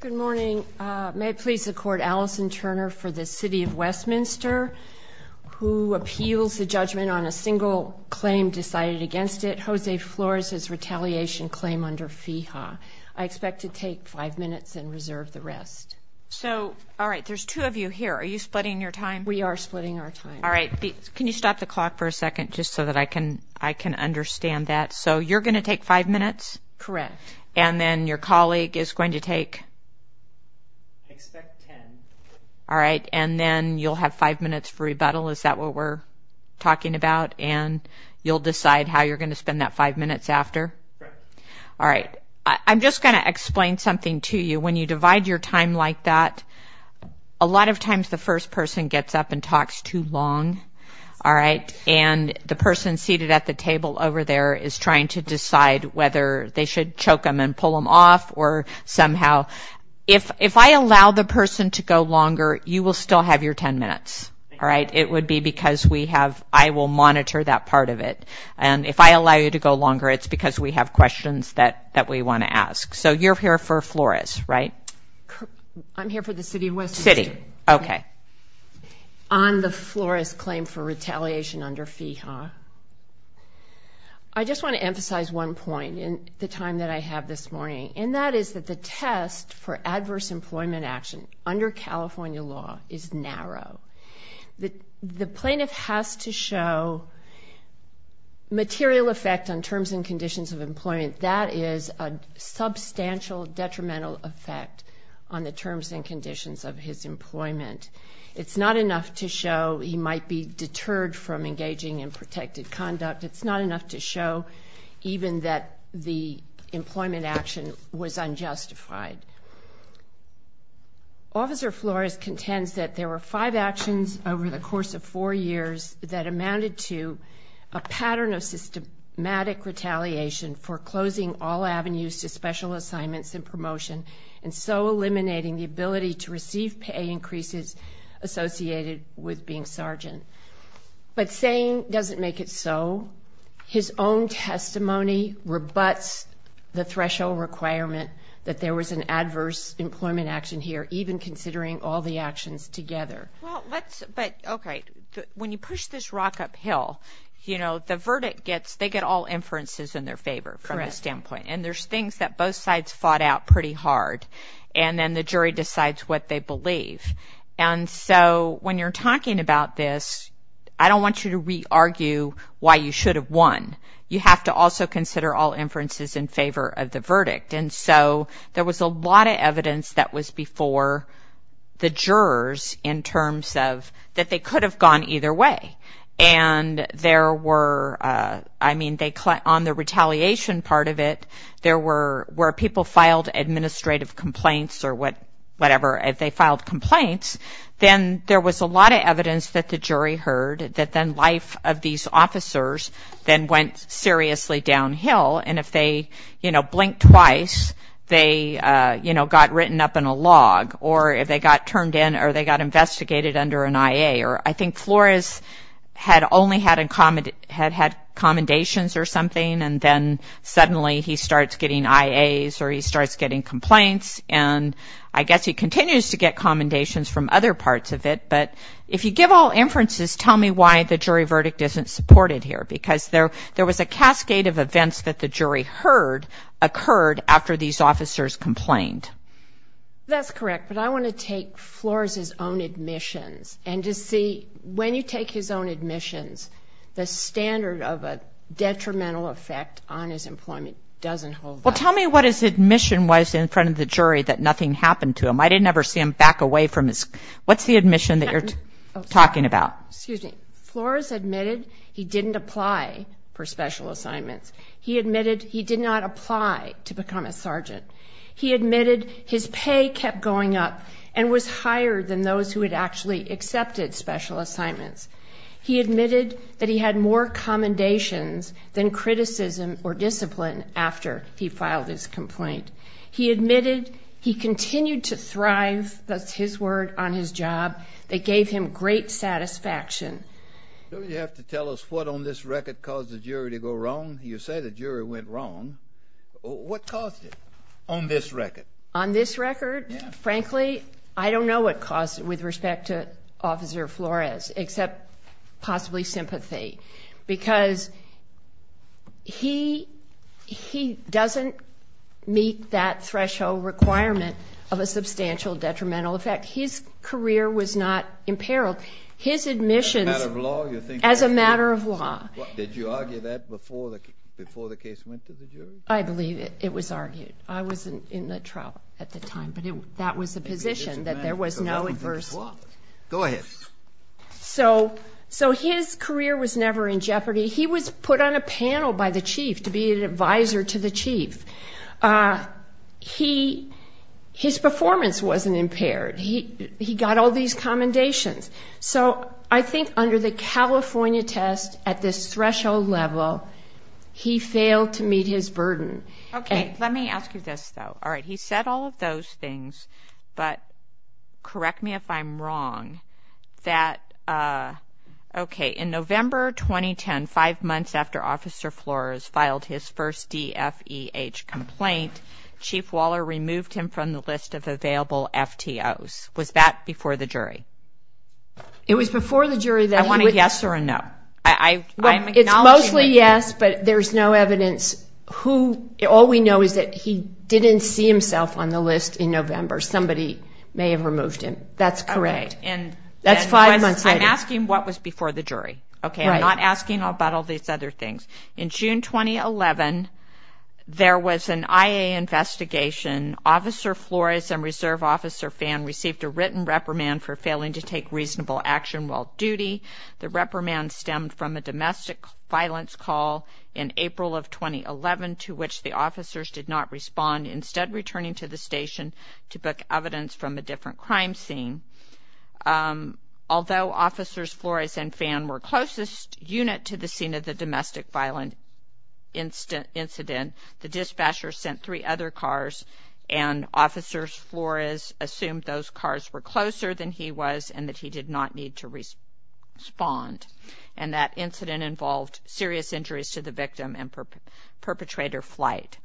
Good morning. May it please the Court, Alison Turner for the City of Westminster, who appeals the judgment on a single claim decided against it, Jose Flores' retaliation claim under FEHA. I expect to take five minutes and reserve the rest. So, all right, there's two of you here. Are you splitting your time? We are splitting our time. All right. Can you stop the clock for a second just so that I can understand that? So you're going to take five minutes? Correct. And then your colleague is going to take? I expect ten. All right. And then you'll have five minutes for rebuttal. Is that what we're talking about? And you'll decide how you're going to spend that five minutes after? Correct. All right. I'm just going to explain something to you. When you divide your time like that, a lot of times the first person gets up and talks too long. And the person seated at the table over there is trying to decide whether they should choke them and pull them off or somehow. If I allow the person to go longer, you will still have your ten minutes. It would be because I will monitor that part of it. And if I allow you to go longer, it's because we have questions that we want to ask. So you're here for Flores, right? I'm here for the City of Westminster. City. Okay. On the Flores claim for retaliation under FEHA, I just want to emphasize one point in the time that I have this morning. And that is that the test for adverse employment action under California law is narrow. The plaintiff has to show material effect on terms and conditions of employment. That is a substantial detrimental effect on the terms and conditions of his employment. It's not enough to show he might be deterred from engaging in protected conduct. It's not enough to show even that the employment action was unjustified. Officer Flores contends that there were five actions over the course of four years that amounted to a pattern of systematic retaliation for closing all avenues to special assignments and promotion and so eliminating the ability to receive pay increases associated with being sergeant. But saying doesn't make it so. His own testimony rebuts the threshold requirement that there was an adverse employment action here, even considering all the actions together. Well, let's, but, okay, when you push this rock uphill, you know, the verdict gets, they get all inferences in their favor from this standpoint. And there's things that both sides fought out pretty hard. And then the jury decides what they believe. And so when you're talking about this, I don't want you to re-argue why you should have won. You have to also consider all inferences in favor of the verdict. And so there was a lot of evidence that was before the jurors in terms of that they could have gone either way. And there were, I mean, they, on the retaliation part of it, where people filed administrative complaints or whatever, if they filed complaints, then there was a lot of evidence that the jury heard that then life of these officers then went seriously downhill. And if they, you know, blinked twice, they, you know, got written up in a log. Or if they got turned in or they got investigated under an IA. Or I think Flores had only had commendations or something and then suddenly he starts getting IAs or he starts getting complaints. And I guess he continues to get commendations from other parts of it. But if you give all inferences, tell me why the jury verdict isn't supported here. Because there was a cascade of events that the jury heard occurred after these officers complained. That's correct. But I want to take Flores' own admissions and to see when you take his own admissions, the standard of a detrimental effect on his employment doesn't hold up. Well, tell me what his admission was in front of the jury that nothing happened to him. I didn't ever see him back away from his, what's the admission that you're talking about? Excuse me. Flores admitted he didn't apply for special assignments. He admitted he did not apply to become a sergeant. He admitted his pay kept going up and was higher than those who had actually accepted special assignments. He admitted that he had more commendations than criticism or discipline after he filed his complaint. He admitted he continued to thrive, that's his word, on his job. They gave him great satisfaction. Don't you have to tell us what on this record caused the jury to go wrong? You say the jury went wrong. What caused it on this record? Frankly, I don't know what caused it with respect to Officer Flores except possibly sympathy because he doesn't meet that threshold requirement of a substantial detrimental effect. His career was not imperiled. His admissions as a matter of law. Did you argue that before the case went to the jury? I believe it was argued. I was in the trial at the time, but that was the position, that there was no adversity. Go ahead. So his career was never in jeopardy. He was put on a panel by the chief to be an advisor to the chief. His performance wasn't impaired. He got all these commendations. So I think under the California test at this threshold level, he failed to meet his burden. Okay. Let me ask you this, though. All right. He said all of those things, but correct me if I'm wrong, that, okay, in November 2010, five months after Officer Flores filed his first DFEH complaint, Chief Waller removed him from the list of available FTOs. Was that before the jury? It was before the jury. I want a yes or a no. It's mostly yes, but there's no evidence. All we know is that he didn't see himself on the list in November. Somebody may have removed him. That's correct. That's five months later. I'm asking what was before the jury, okay? I'm not asking about all these other things. In June 2011, there was an IA investigation. Officer Flores and Reserve Officer Phan received a written reprimand for failing to take reasonable action while duty. The reprimand stemmed from a domestic violence call in April of 2011 to which the officers did not respond, instead returning to the station to book evidence from a different crime scene. Although Officers Flores and Phan were closest unit to the scene of the domestic violent incident, the dispatcher sent three other cars, and Officers Flores assumed those cars were closer than he was and that he did not need to respond, and that incident involved serious injuries to the victim and perpetrator flight.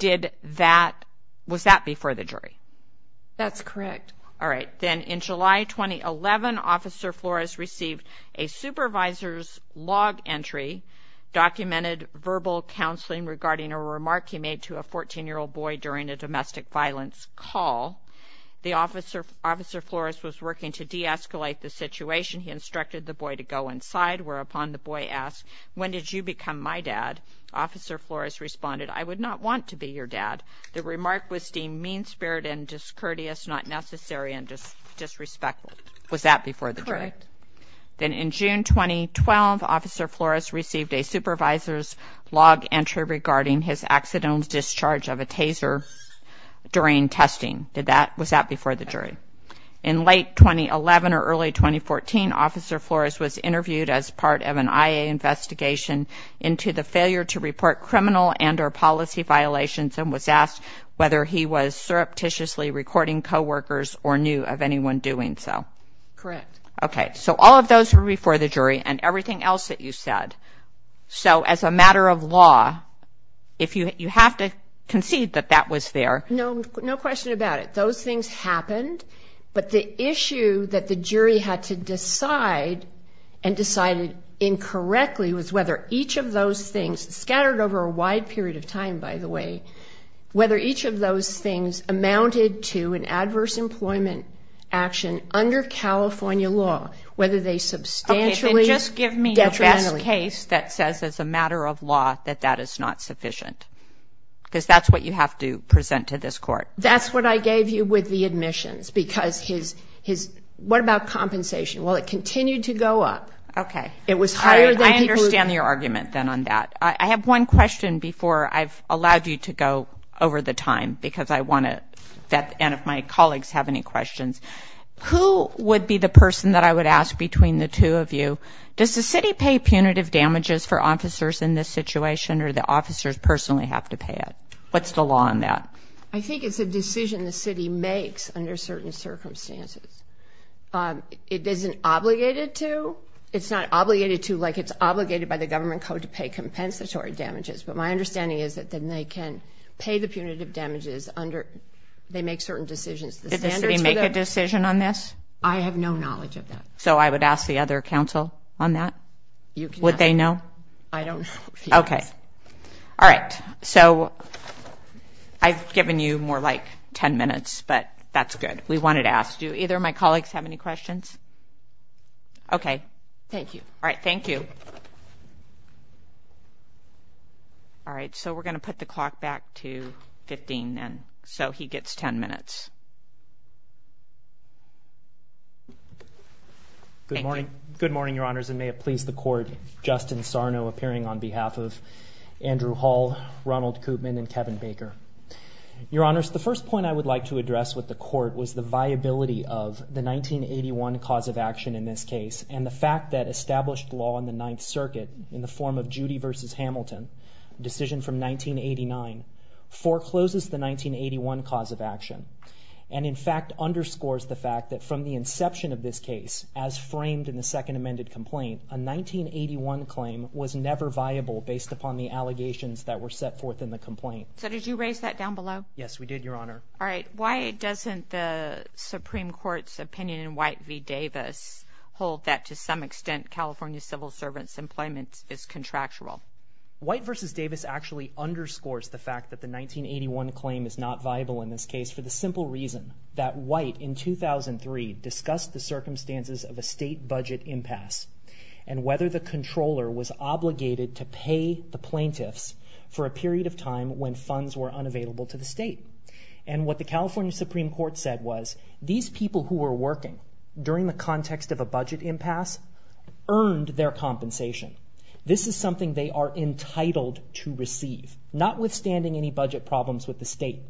Was that before the jury? That's correct. All right. Then in July 2011, Officer Flores received a supervisor's log entry, documented verbal counseling regarding a remark he made to a 14-year-old boy during a domestic violence call. The Officer Flores was working to de-escalate the situation. He instructed the boy to go inside, whereupon the boy asked, when did you become my dad? Officer Flores responded, I would not want to be your dad. The remark was deemed mean-spirited and discourteous, not necessary, and disrespectful. Was that before the jury? Correct. Then in June 2012, Officer Flores received a supervisor's log entry regarding his accidental discharge of a taser during testing. Was that before the jury? Correct. In late 2011 or early 2014, Officer Flores was interviewed as part of an IA investigation into the failure to report criminal and or policy violations and was asked whether he was surreptitiously recording coworkers or knew of anyone doing so. Correct. Okay. So all of those were before the jury and everything else that you said. So as a matter of law, if you have to concede that that was there. No question about it. Those things happened, but the issue that the jury had to decide and decided incorrectly was whether each of those things scattered over a wide period of time, by the way, whether each of those things amounted to an adverse employment action under California law, whether they substantially detrimentally. Okay. Then just give me a best case that says as a matter of law that that is not sufficient because that's what you have to present to this court. That's what I gave you with the admissions because what about compensation? Well, it continued to go up. Okay. I understand your argument then on that. I have one question before I've allowed you to go over the time because I want to, and if my colleagues have any questions. Who would be the person that I would ask between the two of you? Does the city pay punitive damages for officers in this situation or do the officers personally have to pay it? What's the law on that? I think it's a decision the city makes under certain circumstances. It isn't obligated to. It's not obligated to like it's obligated by the government code to pay compensatory damages, but my understanding is that then they can pay the punitive damages under they make certain decisions. Did the city make a decision on this? I have no knowledge of that. So I would ask the other counsel on that? Would they know? I don't know. Okay. All right. So I've given you more like ten minutes, but that's good. We wanted to ask. Do either of my colleagues have any questions? Okay. Thank you. All right, thank you. All right, so we're going to put the clock back to 15, and so he gets ten minutes. Good morning, Your Honors, and may it please the Court, Justin Sarno appearing on behalf of Andrew Hall, Ronald Koopman, and Kevin Baker. Your Honors, the first point I would like to address with the Court was the viability of the 1981 cause of action in this case and the fact that established law in the Ninth Circuit in the form of Judy v. Hamilton, a decision from 1989, forecloses the 1981 cause of action and, in fact, underscores the fact that from the inception of this case, as framed in the second amended complaint, a 1981 claim was never viable based upon the allegations that were set forth in the complaint. So did you raise that down below? Yes, we did, Your Honor. All right. Why doesn't the Supreme Court's opinion in White v. Davis hold that to some extent California civil servants' employment is contractual? White v. Davis actually underscores the fact that the 1981 claim is not viable in this case for the simple reason that White, in 2003, discussed the circumstances of a state budget impasse and whether the controller was obligated to pay the plaintiffs for a period of time when funds were unavailable to the state. And what the California Supreme Court said was these people who were working during the context of a budget impasse earned their compensation. This is something they are entitled to receive, notwithstanding any budget problems with the state.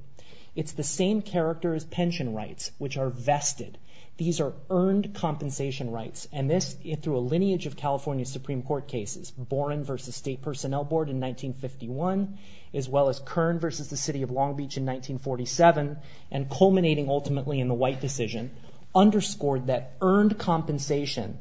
It's the same character as pension rights, which are vested. These are earned compensation rights. And this, through a lineage of California Supreme Court cases, Boren v. State Personnel Board in 1951, as well as Kern v. The City of Long Beach in 1947, and culminating ultimately in the White decision, underscored that earned compensation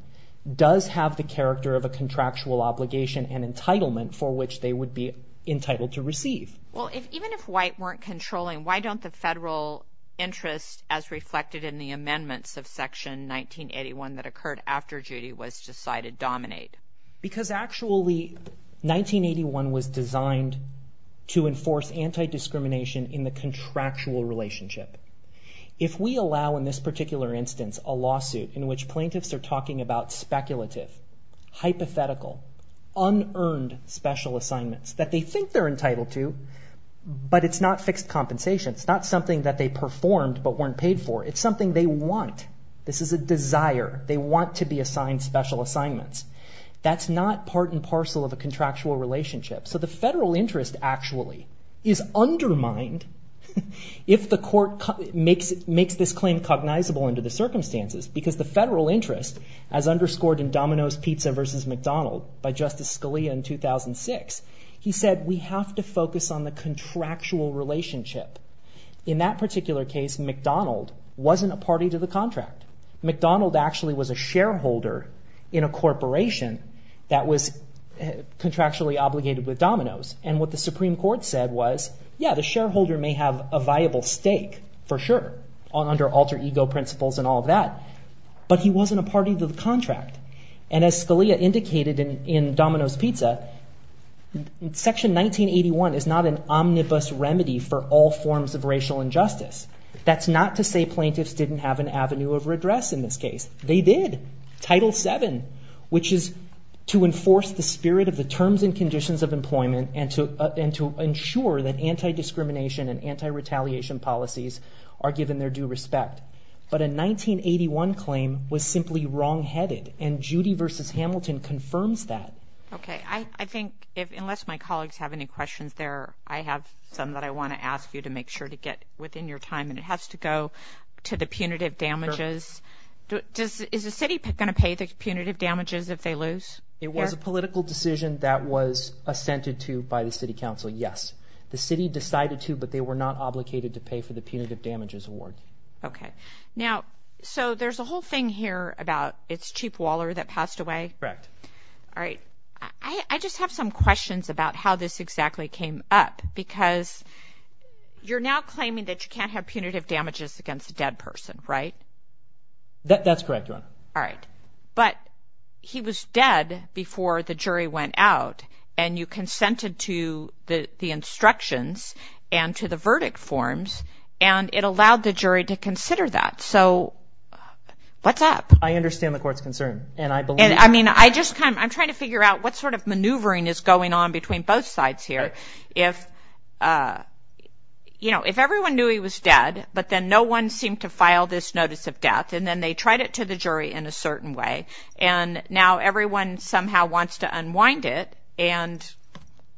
does have the character of a contractual obligation and entitlement for which they would be entitled to receive. Well, even if White weren't controlling, why don't the federal interests, as reflected in the amendments of Section 1981 that occurred after Judy was decided, dominate? Because actually 1981 was designed to enforce anti-discrimination in the contractual relationship. If we allow in this particular instance a lawsuit in which plaintiffs are talking about speculative, hypothetical, unearned special assignments that they think they're entitled to, but it's not fixed compensation. It's not something that they performed but weren't paid for. It's something they want. This is a desire. They want to be assigned special assignments. That's not part and parcel of a contractual relationship. So the federal interest actually is undermined if the court makes this claim cognizable under the circumstances, because the federal interest, as underscored in Domino's Pizza v. McDonald by Justice Scalia in 2006, he said we have to focus on the contractual relationship. In that particular case, McDonald wasn't a party to the contract. McDonald actually was a shareholder in a corporation that was contractually obligated with Domino's, and what the Supreme Court said was, yeah, the shareholder may have a viable stake for sure under alter ego principles and all of that, but he wasn't a party to the contract. As Scalia indicated in Domino's Pizza, Section 1981 is not an omnibus remedy for all forms of racial injustice. That's not to say plaintiffs didn't have an avenue of redress in this case. They did, Title VII, which is to enforce the spirit of the terms and conditions of employment and to ensure that anti-discrimination and anti-retaliation policies are given their due respect. But a 1981 claim was simply wrongheaded, and Judy v. Hamilton confirms that. Okay, I think unless my colleagues have any questions there, I have some that I want to ask you to make sure to get within your time, and it has to go to the punitive damages. Is the city going to pay the punitive damages if they lose? It was a political decision that was assented to by the city council, yes. The city decided to, but they were not obligated to pay for the punitive damages award. Okay. Now, so there's a whole thing here about it's Chief Waller that passed away? Correct. All right. I just have some questions about how this exactly came up because you're now claiming that you can't have punitive damages against a dead person, right? That's correct, Your Honor. All right. But he was dead before the jury went out, and you consented to the instructions and to the verdict forms, and it allowed the jury to consider that. So what's up? I understand the court's concern, and I believe that. And, I mean, I'm trying to figure out what sort of maneuvering is going on between both sides here. If everyone knew he was dead, but then no one seemed to file this notice of death, and then they tried it to the jury in a certain way, and now everyone somehow wants to unwind it, and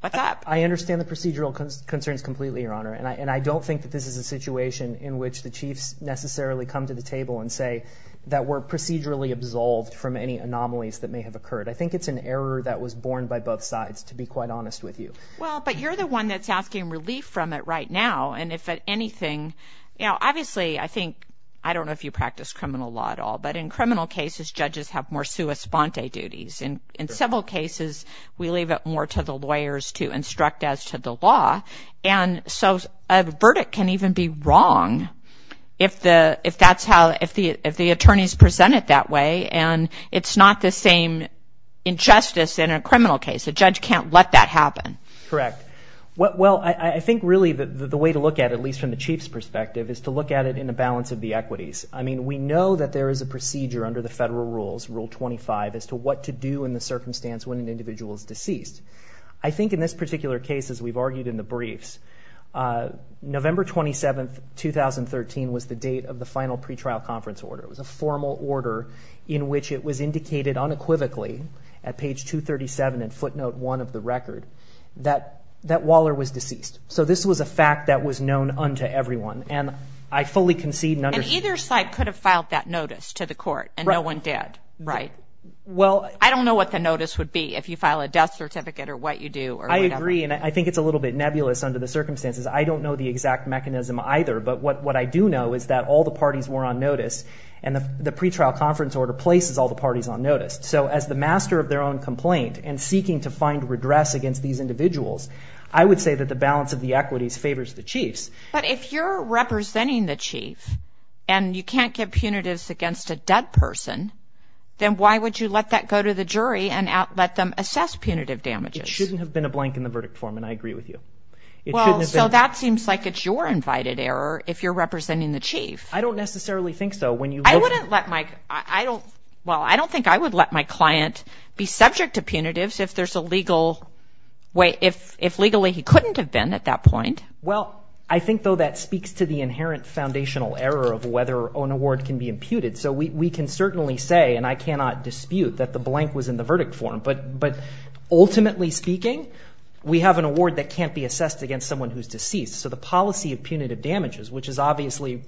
what's up? I understand the procedural concerns completely, Your Honor, and I don't think that this is a situation in which the chiefs necessarily come to the table and say that we're procedurally absolved from any anomalies that may have occurred. I think it's an error that was borne by both sides, to be quite honest with you. Well, but you're the one that's asking relief from it right now, and if anything, you know, obviously, I think, I don't know if you practice criminal law at all, but in criminal cases, judges have more sua sponte duties. In civil cases, we leave it more to the lawyers to instruct as to the law, and so a verdict can even be wrong if the attorneys present it that way, and it's not the same injustice in a criminal case. A judge can't let that happen. Correct. Well, I think, really, the way to look at it, at least from the chief's perspective, is to look at it in the balance of the equities. I mean, we know that there is a procedure under the federal rules, Rule 25, as to what to do in the circumstance when an individual is deceased. I think in this particular case, as we've argued in the briefs, November 27, 2013 was the date of the final pretrial conference order. It was a formal order in which it was indicated unequivocally at page 237 and footnote 1 of the record that Waller was deceased. So this was a fact that was known unto everyone, and I fully concede and understand. And either side could have filed that notice to the court, and no one did, right? Well, I don't know what the notice would be if you file a death certificate or what you do or whatever. I agree, and I think it's a little bit nebulous under the circumstances. I don't know the exact mechanism either, but what I do know is that all the parties were on notice, and the pretrial conference order places all the parties on notice. So as the master of their own complaint and seeking to find redress against these individuals, I would say that the balance of the equities favors the chiefs. But if you're representing the chief and you can't get punitives against a dead person, then why would you let that go to the jury and let them assess punitive damages? It shouldn't have been a blank in the verdict form, and I agree with you. Well, so that seems like it's your invited error if you're representing the chief. I don't necessarily think so. Well, I don't think I would let my client be subject to punitives if legally he couldn't have been at that point. Well, I think, though, that speaks to the inherent foundational error of whether an award can be imputed. So we can certainly say, and I cannot dispute, that the blank was in the verdict form. But ultimately speaking, we have an award that can't be assessed against someone who's deceased. So the policy of punitive damages, which is obviously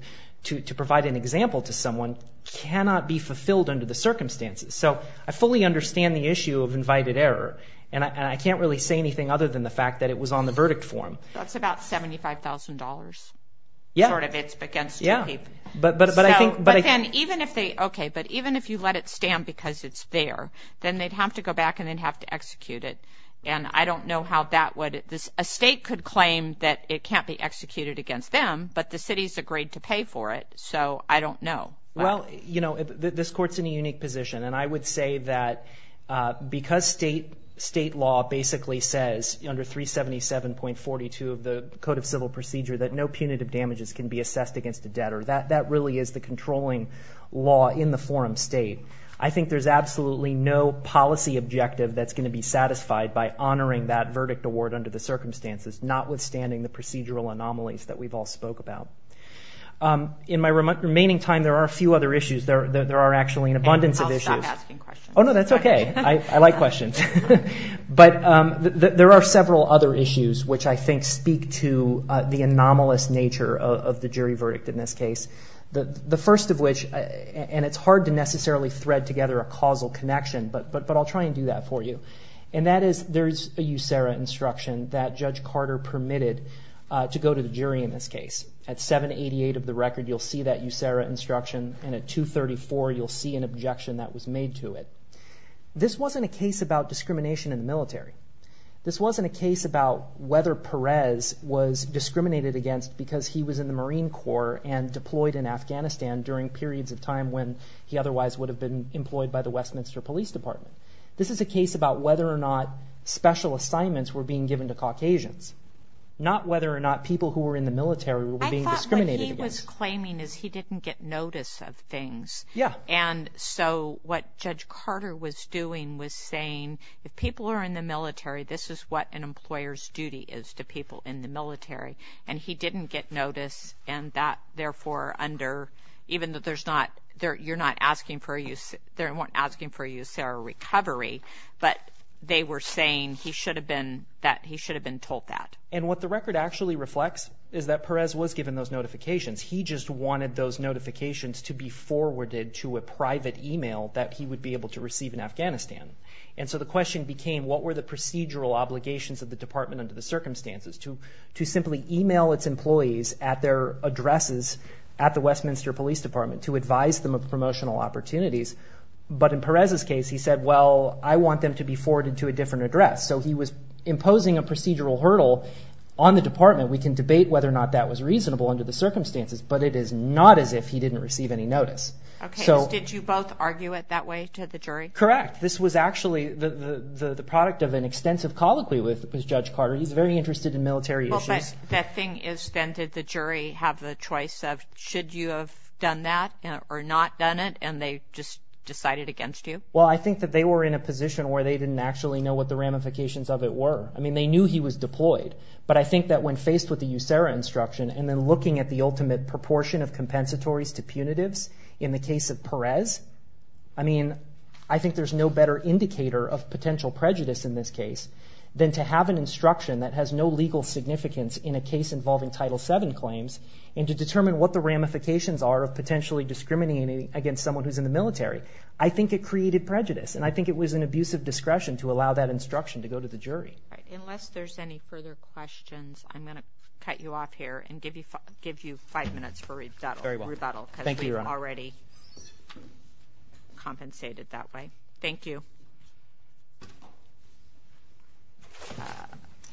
to provide an example to someone, cannot be fulfilled under the circumstances. So I fully understand the issue of invited error, and I can't really say anything other than the fact that it was on the verdict form. That's about $75,000. Yeah. But even if you let it stand because it's there, then they'd have to go back and they'd have to execute it. And I don't know how that would... A state could claim that it can't be executed against them, but the city's agreed to pay for it. So I don't know. Well, you know, this court's in a unique position, and I would say that because state law basically says, under 377.42 of the Code of Civil Procedure, that no punitive damages can be assessed against a debtor, that that really is the controlling law in the forum state. I think there's absolutely no policy objective that's going to be satisfied by honoring that verdict award under the circumstances, notwithstanding the procedural anomalies that we've all spoke about. In my remaining time, there are a few other issues. There are actually an abundance of issues. And I'll stop asking questions. Oh, no, that's okay. I like questions. But there are several other issues which I think speak to the anomalous nature of the jury verdict in this case. The first of which, and it's hard to necessarily thread together a causal connection, but I'll try and do that for you. And that is, there's a USERRA instruction that Judge Carter permitted to go to the jury in this case. At 788 of the record, you'll see that USERRA instruction, and at 234, you'll see an objection that was made to it. This wasn't a case about discrimination in the military. This wasn't a case about whether Perez was discriminated against because he was in the Marine Corps and deployed in Afghanistan during periods of time when he otherwise would have been employed by the Westminster Police Department. This is a case about whether or not special assignments were being given to Caucasians, not whether or not people who were in the military were being discriminated against. I thought what he was claiming is he didn't get notice of things. Yeah. And so what Judge Carter was doing was saying, if people are in the military, this is what an employer's duty is to people in the military. And he didn't get notice, and that, therefore, under... You're not asking for a USERRA recovery, but they were saying he should have been told that. And what the record actually reflects is that Perez was given those notifications. He just wanted those notifications to be forwarded to a private email that he would be able to receive in Afghanistan. And so the question became, what were the procedural obligations of the department under the circumstances to simply email its employees at their addresses at the Westminster Police Department to advise them of promotional opportunities? But in Perez's case, he said, well, I want them to be forwarded to a different address. So he was imposing a procedural hurdle on the department. We can debate whether or not that was reasonable under the circumstances, but it is not as if he didn't receive any notice. Okay, so did you both argue it that way to the jury? Correct. This was actually the product of an extensive colloquy with Judge Carter. He's very interested in military issues. Well, but the thing is, then, did the jury have the choice of, should you have done that or not done it, and they just decided against you? Well, I think that they were in a position where they didn't actually know what the ramifications of it were. I mean, they knew he was deployed, but I think that when faced with the USERRA instruction and then looking at the ultimate proportion of compensatories to punitives in the case of Perez, I mean, I think there's no better indicator of potential prejudice in this case than to have an instruction that has no legal significance in a case involving Title VII claims and to determine what the ramifications are of potentially discriminating against someone who's in the military. I think it created prejudice, and I think it was an abuse of discretion to allow that instruction to go to the jury. All right, unless there's any further questions, I'm going to cut you off here and give you five minutes for rebuttal. Very well. Thank you, Your Honor. Because we've already compensated that way. Thank you.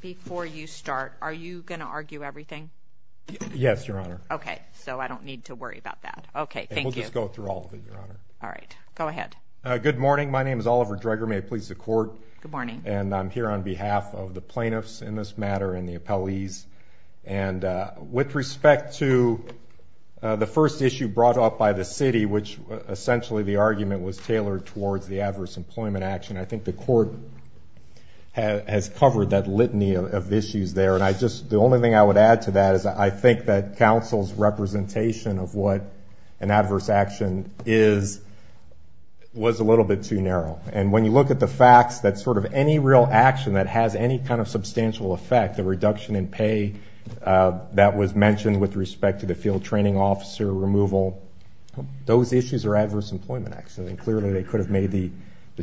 Before you start, are you going to argue everything? Yes, Your Honor. Okay, so I don't need to worry about that. Okay, thank you. We'll just go through all of it, Your Honor. All right, go ahead. Good morning. My name is Oliver Dreger. May it please the Court. Good morning. And I'm here on behalf of the plaintiffs in this matter and the appellees. And with respect to the first issue brought up by the city, which essentially the argument was tailored towards the adverse employment action, I think the Court has covered that litany of issues there. And the only thing I would add to that is I think that counsel's representation of what an adverse action is was a little bit too narrow. And when you look at the facts, that sort of any real action that has any kind of substantial effect, the reduction in pay that was mentioned with respect to the field training officer removal, those issues are adverse employment actions. And clearly they could have made the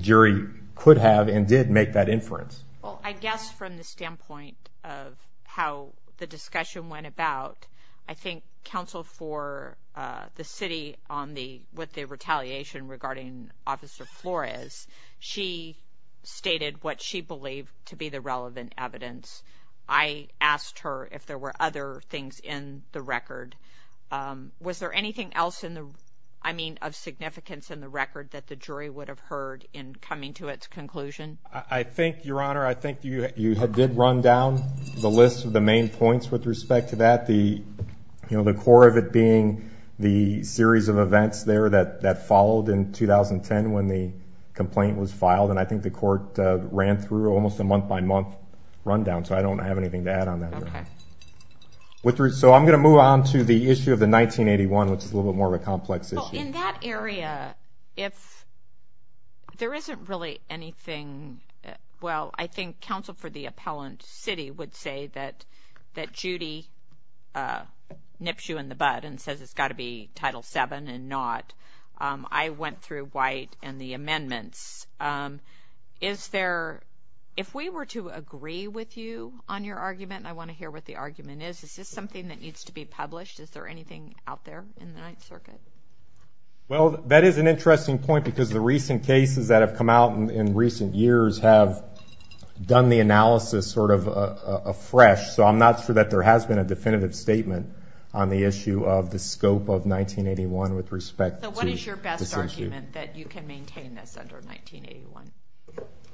jury could have and did make that inference. Well, I guess from the standpoint of how the discussion went about, I think counsel for the city on what the retaliation regarding Officer Flores, she stated what she believed to be the relevant evidence. I asked her if there were other things in the record. Was there anything else in the, I mean, of significance in the record that the jury would have heard in coming to its conclusion? I think, Your Honor, I think you did run down the list of the main points with respect to that. The core of it being the series of events there that followed in 2010 when the complaint was filed. And I think the Court ran through almost a month-by-month rundown. So I don't have anything to add on that. So I'm going to move on to the issue of the 1981, which is a little bit more of a complex issue. In that area, if there isn't really anything, well, I think counsel for the appellant city would say that Judy nips you in the bud and says it's got to be Title VII and not. I went through White and the amendments. Is there, if we were to agree with you on your argument, and I want to hear what the argument is, is this something that needs to be published? Is there anything out there in the Ninth Circuit? Well, that is an interesting point because the recent cases that have come out in recent years have done the analysis sort of afresh. So I'm not sure that there has been a definitive statement on the issue of the scope of 1981 with respect to this issue. So what is your best argument that you can maintain this under 1981?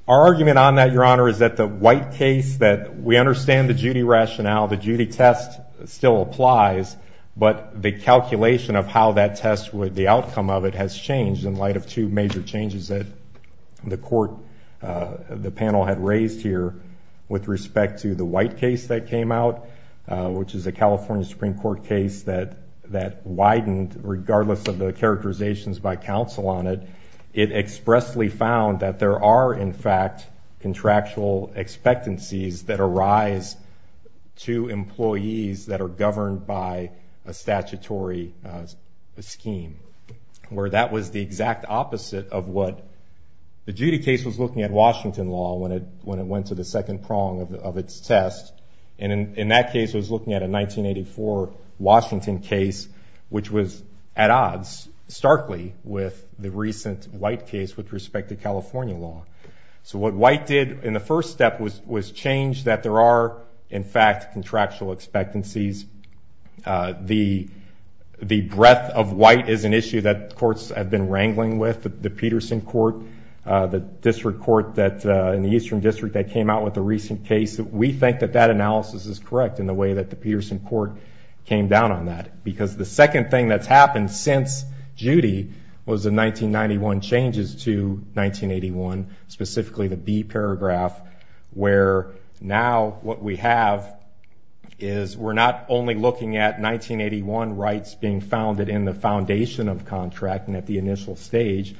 Our argument on that, Your Honor, is that the White case, that we understand the Judy rationale, the Judy test still applies, but the calculation of how that test would, the outcome of it has changed in light of two major changes that the panel had raised here with respect to the White case that came out, which is a California Supreme Court case that widened regardless of the characterizations by counsel on it. It expressly found that there are, in fact, contractual expectancies that arise to employees that are governed by a statutory scheme, where that was the exact opposite of what... The Judy case was looking at Washington law when it went to the second prong of its test, and in that case it was looking at a 1984 Washington case, which was at odds starkly with the recent White case with respect to California law. So what White did in the first step was change that there are, in fact, contractual expectancies. The breadth of White is an issue that courts have been wrangling with. The Peterson court, the district court in the Eastern District that came out with the recent case, we think that that analysis is correct in the way that the Peterson court came down on that, because the second thing that's happened since Judy was the 1991 changes to 1981, specifically the B paragraph, where now what we have is we're not only looking at 1981 rights being founded in the foundation of contracting at the initial stage,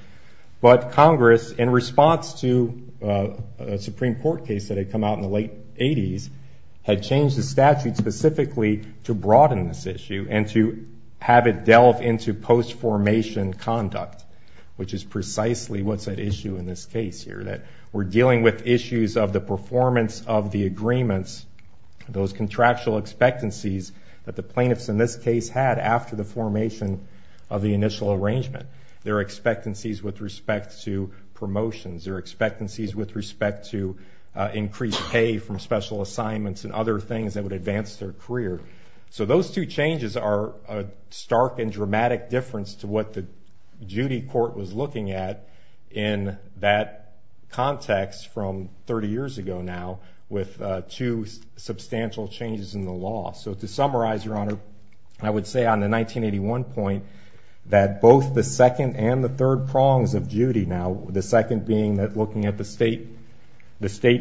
but Congress, in response to a Supreme Court case that had come out in the late 80s, had changed the statute specifically to broaden this issue and to have it delve into post-formation conduct, which is precisely what's at issue in this case here, that we're dealing with issues of the performance of the agreements, those contractual expectancies that the plaintiffs in this case had after the formation of the initial arrangement. There are expectancies with respect to promotions. There are expectancies with respect to increased pay from special assignments and other things that would advance their career. So those two changes are a stark and dramatic difference to what the Judy court was looking at in that context from 30 years ago now with two substantial changes in the law. So to summarize, Your Honor, I would say on the 1981 point that both the second and the third prongs of Judy now, the second being looking at the state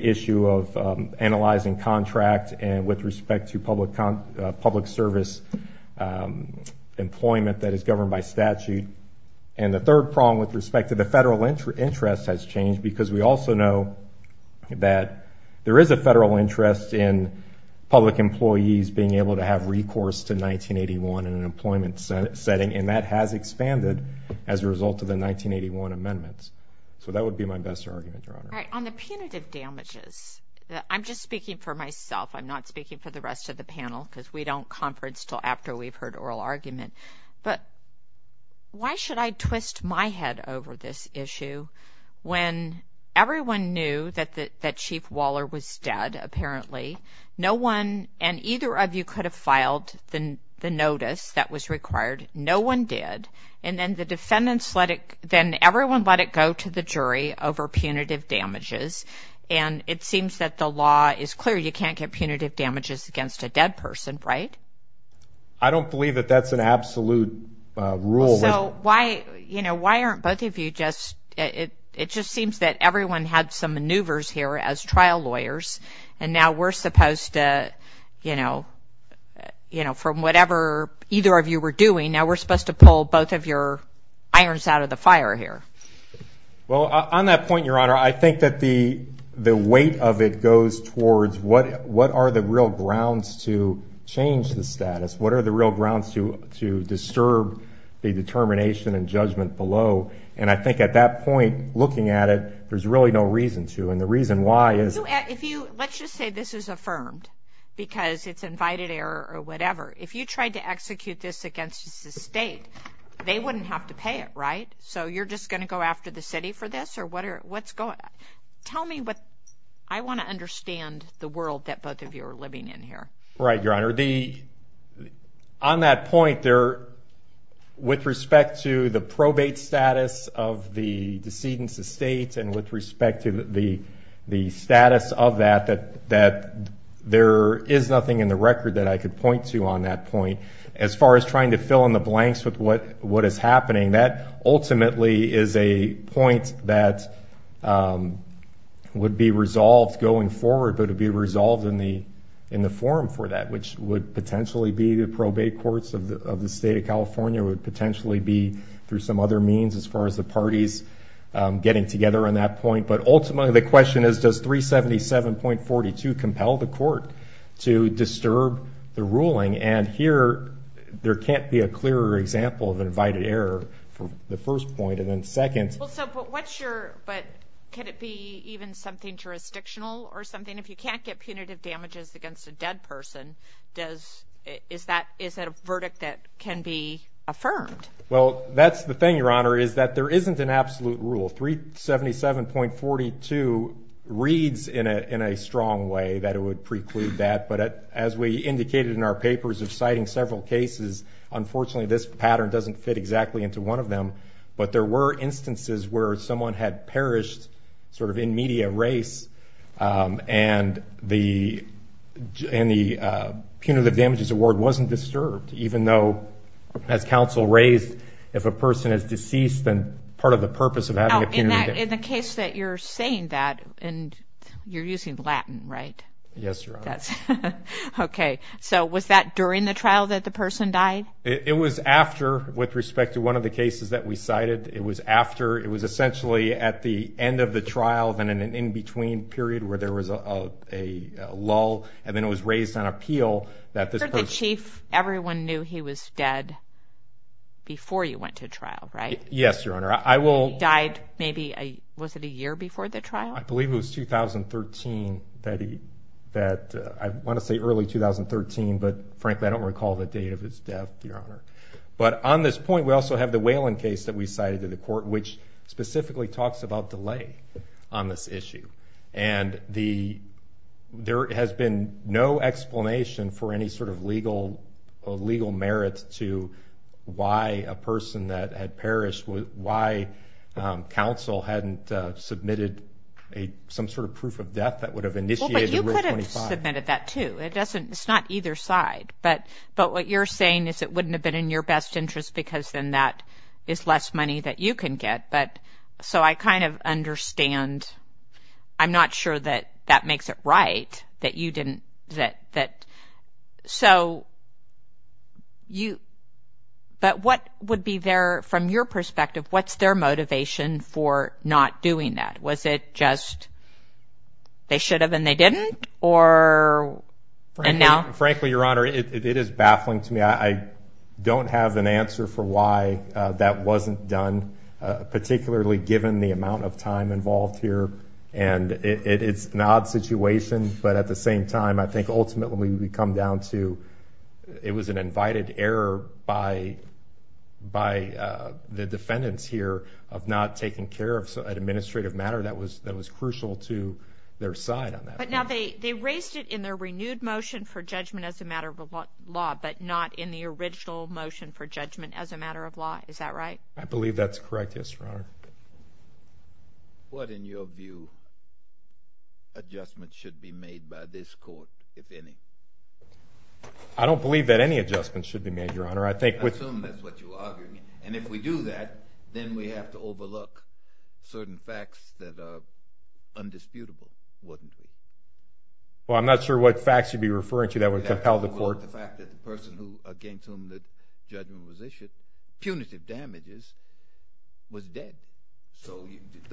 issue of analyzing contract with respect to public service employment that is governed by statute, and the third prong with respect to the federal interest has changed because we also know that there is a federal interest in public employees being able to have recourse to 1981 in an employment setting, and that has expanded as a result of the 1981 amendments. So that would be my best argument, Your Honor. On the punitive damages, I'm just speaking for myself. I'm not speaking for the rest of the panel because we don't conference until after we've heard oral argument, but why should I twist my head over this issue when everyone knew that Chief Waller was dead apparently, no one and either of you could have filed the notice that was required. No one did, and then the defendants let it, then everyone let it go to the jury over punitive damages, and it seems that the law is clear. You can't get punitive damages against a dead person, right? I don't believe that that's an absolute rule. So why aren't both of you just— it just seems that everyone had some maneuvers here as trial lawyers, and now we're supposed to, you know, from whatever either of you were doing, now we're supposed to pull both of your irons out of the fire here. Well, on that point, Your Honor, I think that the weight of it goes towards what are the real grounds to change the status, what are the real grounds to disturb the determination and judgment below, and I think at that point, looking at it, there's really no reason to, and the reason why is— Let's just say this is affirmed because it's invited error or whatever. If you tried to execute this against the state, they wouldn't have to pay it, right? So you're just going to go after the city for this, or what's going— tell me what—I want to understand the world that both of you are living in here. Right, Your Honor. On that point, with respect to the probate status of the decedent's estate and with respect to the status of that, there is nothing in the record that I could point to on that point. As far as trying to fill in the blanks with what is happening, that ultimately is a point that would be resolved going forward, but it would be resolved in the forum for that, which would potentially be the probate courts of the state of California, would potentially be through some other means as far as the parties getting together on that point, but ultimately the question is, does 377.42 compel the court to disturb the ruling? And here, there can't be a clearer example of an invited error from the first point and then second. Well, so what's your—but can it be even something jurisdictional or something? If you can't get punitive damages against a dead person, is that a verdict that can be affirmed? Well, that's the thing, Your Honor, is that there isn't an absolute rule. 377.42 reads in a strong way that it would preclude that, but as we indicated in our papers of citing several cases, unfortunately this pattern doesn't fit exactly into one of them, but there were instances where someone had perished sort of in media race and the punitive damages award wasn't disturbed, even though, as counsel raised, if a person is deceased, then part of the purpose of having a punitive— In the case that you're saying that, and you're using Latin, right? Yes, Your Honor. Okay. So was that during the trial that the person died? It was after, with respect to one of the cases that we cited. It was after—it was essentially at the end of the trial, then in an in-between period where there was a lull, and then it was raised on appeal that this person— For the chief, everyone knew he was dead before you went to trial, right? Yes, Your Honor. I will— He died maybe—was it a year before the trial? I believe it was 2013 that he—I want to say early 2013, but frankly I don't recall the date of his death, Your Honor. But on this point, we also have the Whelan case that we cited to the court, which specifically talks about delay on this issue, and there has been no explanation for any sort of legal merit why a person that had perished— why counsel hadn't submitted some sort of proof of death that would have initiated Rule 25. Well, but you could have submitted that, too. It doesn't—it's not either side. But what you're saying is it wouldn't have been in your best interest because then that is less money that you can get. So I kind of understand. I'm not sure that that makes it right that you didn't— so you—but what would be their—from your perspective, what's their motivation for not doing that? Was it just they should have and they didn't? Or—and now? Frankly, Your Honor, it is baffling to me. I don't have an answer for why that wasn't done, particularly given the amount of time involved here. And it's an odd situation, but at the same time, I think ultimately we come down to it was an invited error by the defendants here of not taking care of an administrative matter that was crucial to their side on that. But now they raised it in their renewed motion for judgment as a matter of law, but not in the original motion for judgment as a matter of law. Is that right? I believe that's correct, yes, Your Honor. What, in your view, adjustments should be made by this court, if any? I don't believe that any adjustments should be made, Your Honor. I think with— I assume that's what you're arguing. And if we do that, then we have to overlook certain facts that are undisputable, wouldn't we? Well, I'm not sure what facts you'd be referring to that would compel the court— So the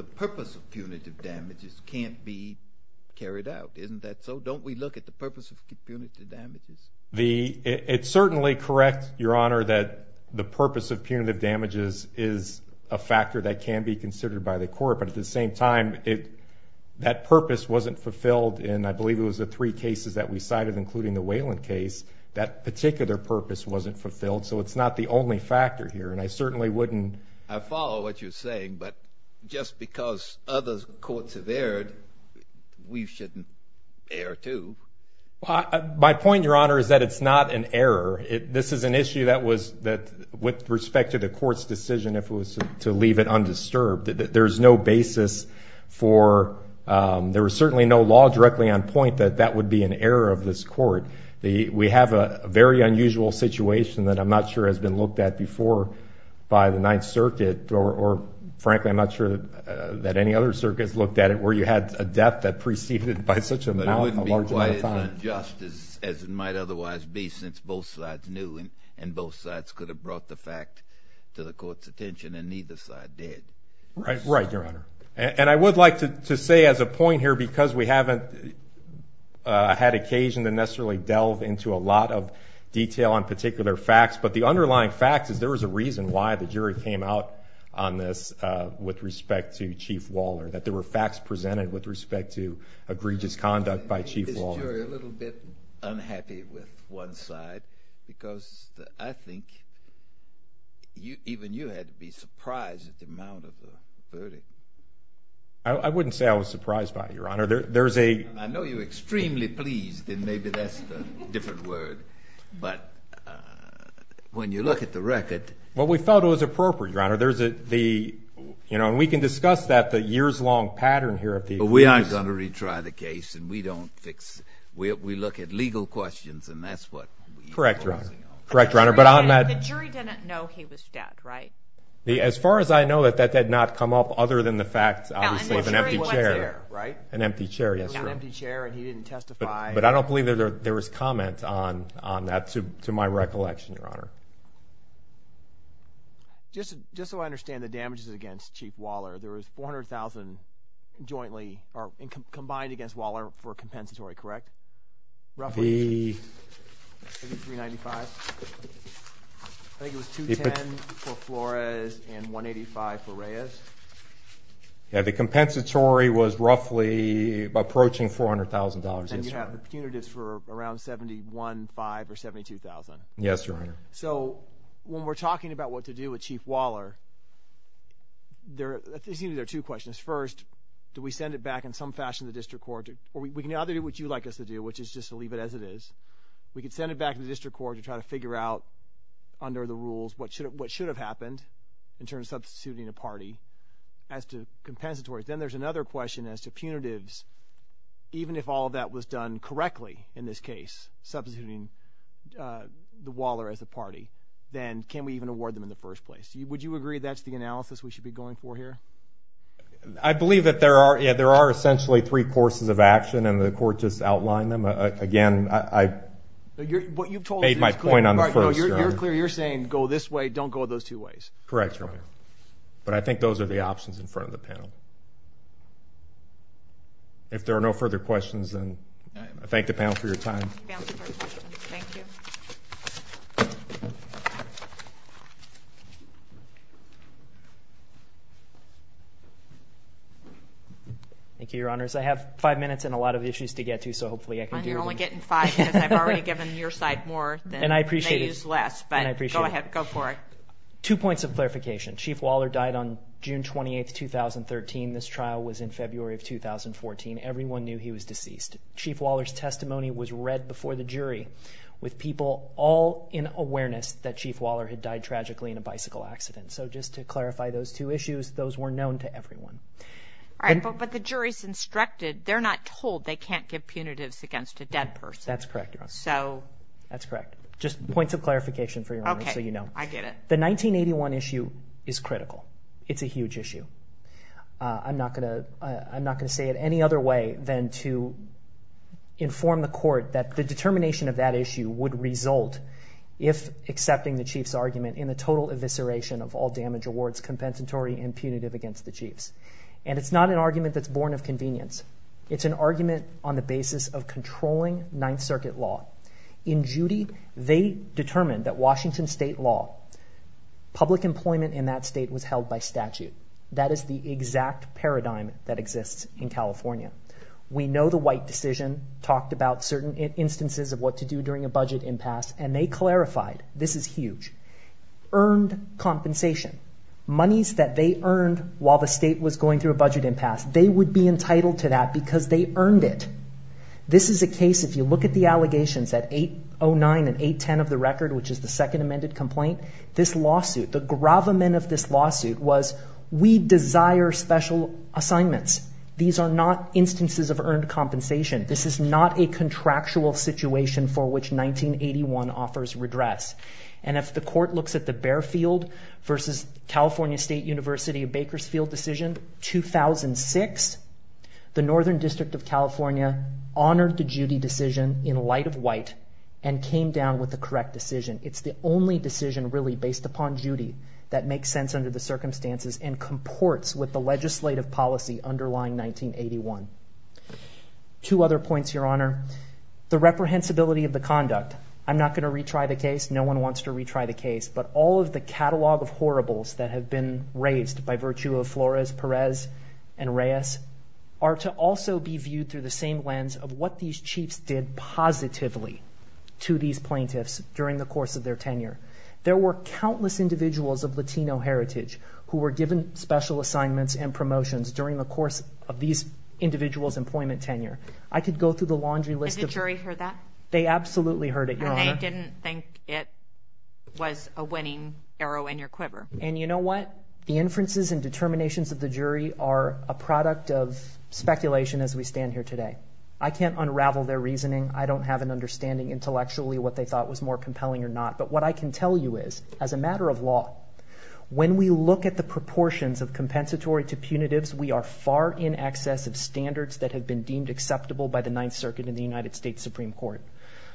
purpose of punitive damages can't be carried out, isn't that so? Don't we look at the purpose of punitive damages? It's certainly correct, Your Honor, that the purpose of punitive damages is a factor that can be considered by the court. But at the same time, that purpose wasn't fulfilled, and I believe it was the three cases that we cited, including the Wayland case, that particular purpose wasn't fulfilled. So it's not the only factor here, and I certainly wouldn't— I follow what you're saying, but just because other courts have erred, we shouldn't err, too. My point, Your Honor, is that it's not an error. This is an issue that was—with respect to the court's decision, if it was to leave it undisturbed, there's no basis for—there was certainly no law directly on point that that would be an error of this court. We have a very unusual situation that I'm not sure has been looked at before by the Ninth Circuit, or frankly, I'm not sure that any other circuit has looked at it, where you had a death that preceded it by such a large amount of time. But it wouldn't be quite as unjust as it might otherwise be, since both sides knew, and both sides could have brought the fact to the court's attention, and neither side did. Right, Your Honor. And I would like to say as a point here, because we haven't had occasion to necessarily delve into a lot of detail on particular facts, but the underlying fact is there was a reason why the jury came out on this with respect to Chief Waller, that there were facts presented with respect to egregious conduct by Chief Waller. Is this jury a little bit unhappy with one side? Because I think even you had to be surprised at the amount of the verdict. I wouldn't say I was surprised by it, Your Honor. There's a— I know you're extremely pleased, and maybe that's a different word, but when you look at the record— Well, we thought it was appropriate, Your Honor. There's a—you know, and we can discuss that, the years-long pattern here. But we are going to retry the case, and we don't fix—we look at legal questions, and that's what we— Correct, Your Honor. Correct, Your Honor. The jury didn't know he was dead, right? As far as I know, that did not come up other than the fact, obviously, of an empty chair. No, and the jury was there, right? An empty chair, yes, Your Honor. An empty chair, and he didn't testify. But I don't believe there was comment on that, to my recollection, Your Honor. Just so I understand, the damages against Chief Waller, there was $400,000 jointly—combined against Waller for a compensatory, correct? Roughly $395,000? I think it was $210,000 for Flores and $185,000 for Reyes? Yeah, the compensatory was roughly approaching $400,000. And you have the punitives for around $71,000, $5,000, or $72,000? Yes, Your Honor. So when we're talking about what to do with Chief Waller, there seem to be two questions. First, do we send it back in some fashion to the district court? Or we can either do what you'd like us to do, which is just to leave it as it is. We could send it back to the district court to try to figure out, under the rules, what should have happened in terms of substituting a party as to compensatory. Then there's another question as to punitives. Even if all of that was done correctly in this case, substituting the Waller as a party, then can we even award them in the first place? Would you agree that's the analysis we should be going for here? I believe that there are essentially three courses of action, and the court just outlined them. Again, I made my point on the first, Your Honor. You're clear. You're saying, go this way, don't go those two ways. Correct, Your Honor. But I think those are the options in front of the panel. If there are no further questions, then I thank the panel for your time. Thank you. Thank you, Your Honors. I have five minutes and a lot of issues to get to, so hopefully I can do them. You're only getting five because I've already given your side more than they use less. And I appreciate it. But go ahead, go for it. Two points of clarification. Chief Waller died on June 28, 2013. This trial was in February of 2014. Everyone knew he was deceased. Chief Waller's testimony was read before the jury with people all in awareness that Chief Waller had died tragically in a bicycle accident. So just to clarify those two issues, those were known to everyone. All right, but the jury's instructed. They're not told they can't give punitives against a dead person. That's correct, Your Honor. So? That's correct. Just points of clarification for you, Your Honor, so you know. I get it. The 1981 issue is critical. It's a huge issue. I'm not going to say it any other way than to inform the court that the determination of that issue would result, if accepting the Chief's argument, in the total evisceration of all damage awards compensatory and punitive against the Chiefs. And it's not an argument that's born of convenience. It's an argument on the basis of controlling Ninth Circuit law. In Judy, they determined that Washington State law, public employment in that state was held by statute. That is the exact paradigm that exists in California. We know the White decision talked about certain instances of what to do during a budget impasse, and they clarified. This is huge. Earned compensation, monies that they earned while the state was going through a budget impasse, they would be entitled to that because they earned it. This is a case, if you look at the allegations at 809 and 810 of the record, which is the second amended complaint, this lawsuit, the gravamen of this lawsuit was we desire special assignments. These are not instances of earned compensation. This is not a contractual situation for which 1981 offers redress. And if the court looks at the Barefield v. California State University of Bakersfield decision, 2006, the Northern District of California honored the Judy decision in light of White and came down with the correct decision. It's the only decision really based upon Judy that makes sense under the circumstances and comports with the legislative policy underlying 1981. Two other points, Your Honor. The reprehensibility of the conduct. I'm not going to retry the case. No one wants to retry the case. But all of the catalog of horribles that have been raised by virtue of Flores, Perez, and Reyes are to also be viewed through the same lens of what these chiefs did positively to these plaintiffs during the course of their tenure. There were countless individuals of Latino heritage who were given special assignments and promotions during the course of these individuals' employment tenure. I could go through the laundry list. Has the jury heard that? They absolutely heard it, Your Honor. And they didn't think it was a winning arrow in your quiver. And you know what? The inferences and determinations of the jury are a product of speculation as we stand here today. I can't unravel their reasoning. I don't have an understanding intellectually what they thought was more compelling or not. But what I can tell you is, as a matter of law, when we look at the proportions of compensatory to punitives, we are far in excess of standards that have been deemed acceptable by the Ninth Circuit in the United States Supreme Court.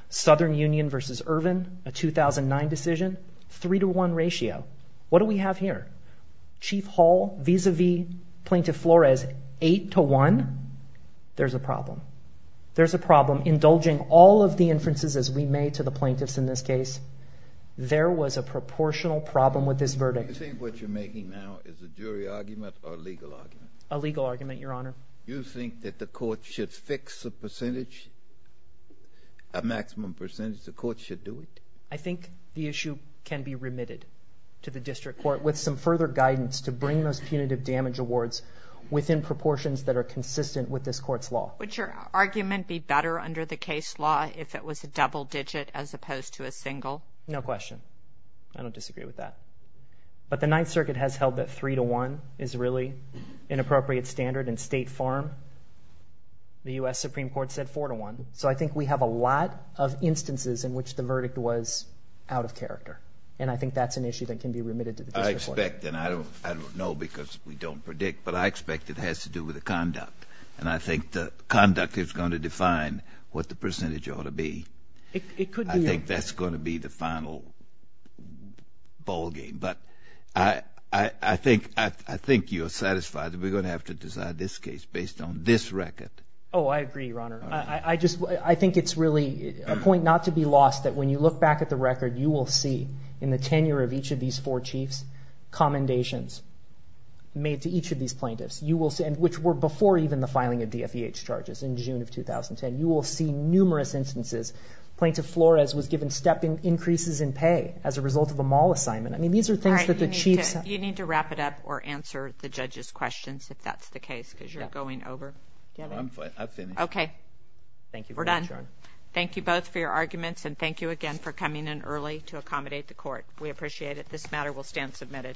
Southern Union v. Irvin, a 2009 decision, 3-to-1 ratio. What do we have here? Chief Hall vis-a-vis Plaintiff Flores, 8-to-1. There's a problem. There's a problem. Indulging all of the inferences as we made to the plaintiffs in this case, there was a proportional problem with this verdict. Do you think what you're making now is a jury argument or a legal argument? A legal argument, Your Honor. Do you think that the court should fix a percentage, a maximum percentage? The court should do it? I think the issue can be remitted to the district court with some further guidance to bring those punitive damage awards within proportions that are consistent with this court's law. Would your argument be better under the case law if it was a double digit as opposed to a single? No question. I don't disagree with that. But the Ninth Circuit has held that 3-to-1 is really an appropriate standard. In State Farm, the U.S. Supreme Court said 4-to-1. So I think we have a lot of instances in which the verdict was out of character, and I think that's an issue that can be remitted to the district court. I expect, and I don't know because we don't predict, but I expect it has to do with the conduct, and I think the conduct is going to define what the percentage ought to be. I think that's going to be the final ballgame. But I think you're satisfied that we're going to have to decide this case based on this record. Oh, I agree, Your Honor. I think it's really a point not to be lost that when you look back at the record, you will see in the tenure of each of these four chiefs commendations made to each of these plaintiffs, which were before even the filing of DFEH charges in June of 2010. You will see numerous instances. Plaintiff Flores was given step increases in pay as a result of a mall assignment. I mean, these are things that the chiefs— You need to wrap it up or answer the judge's questions if that's the case because you're going over. I'm finished. Okay. Thank you. We're done. Thank you both for your arguments, and thank you again for coming in early to accommodate the court. We appreciate it. This matter will stand submitted.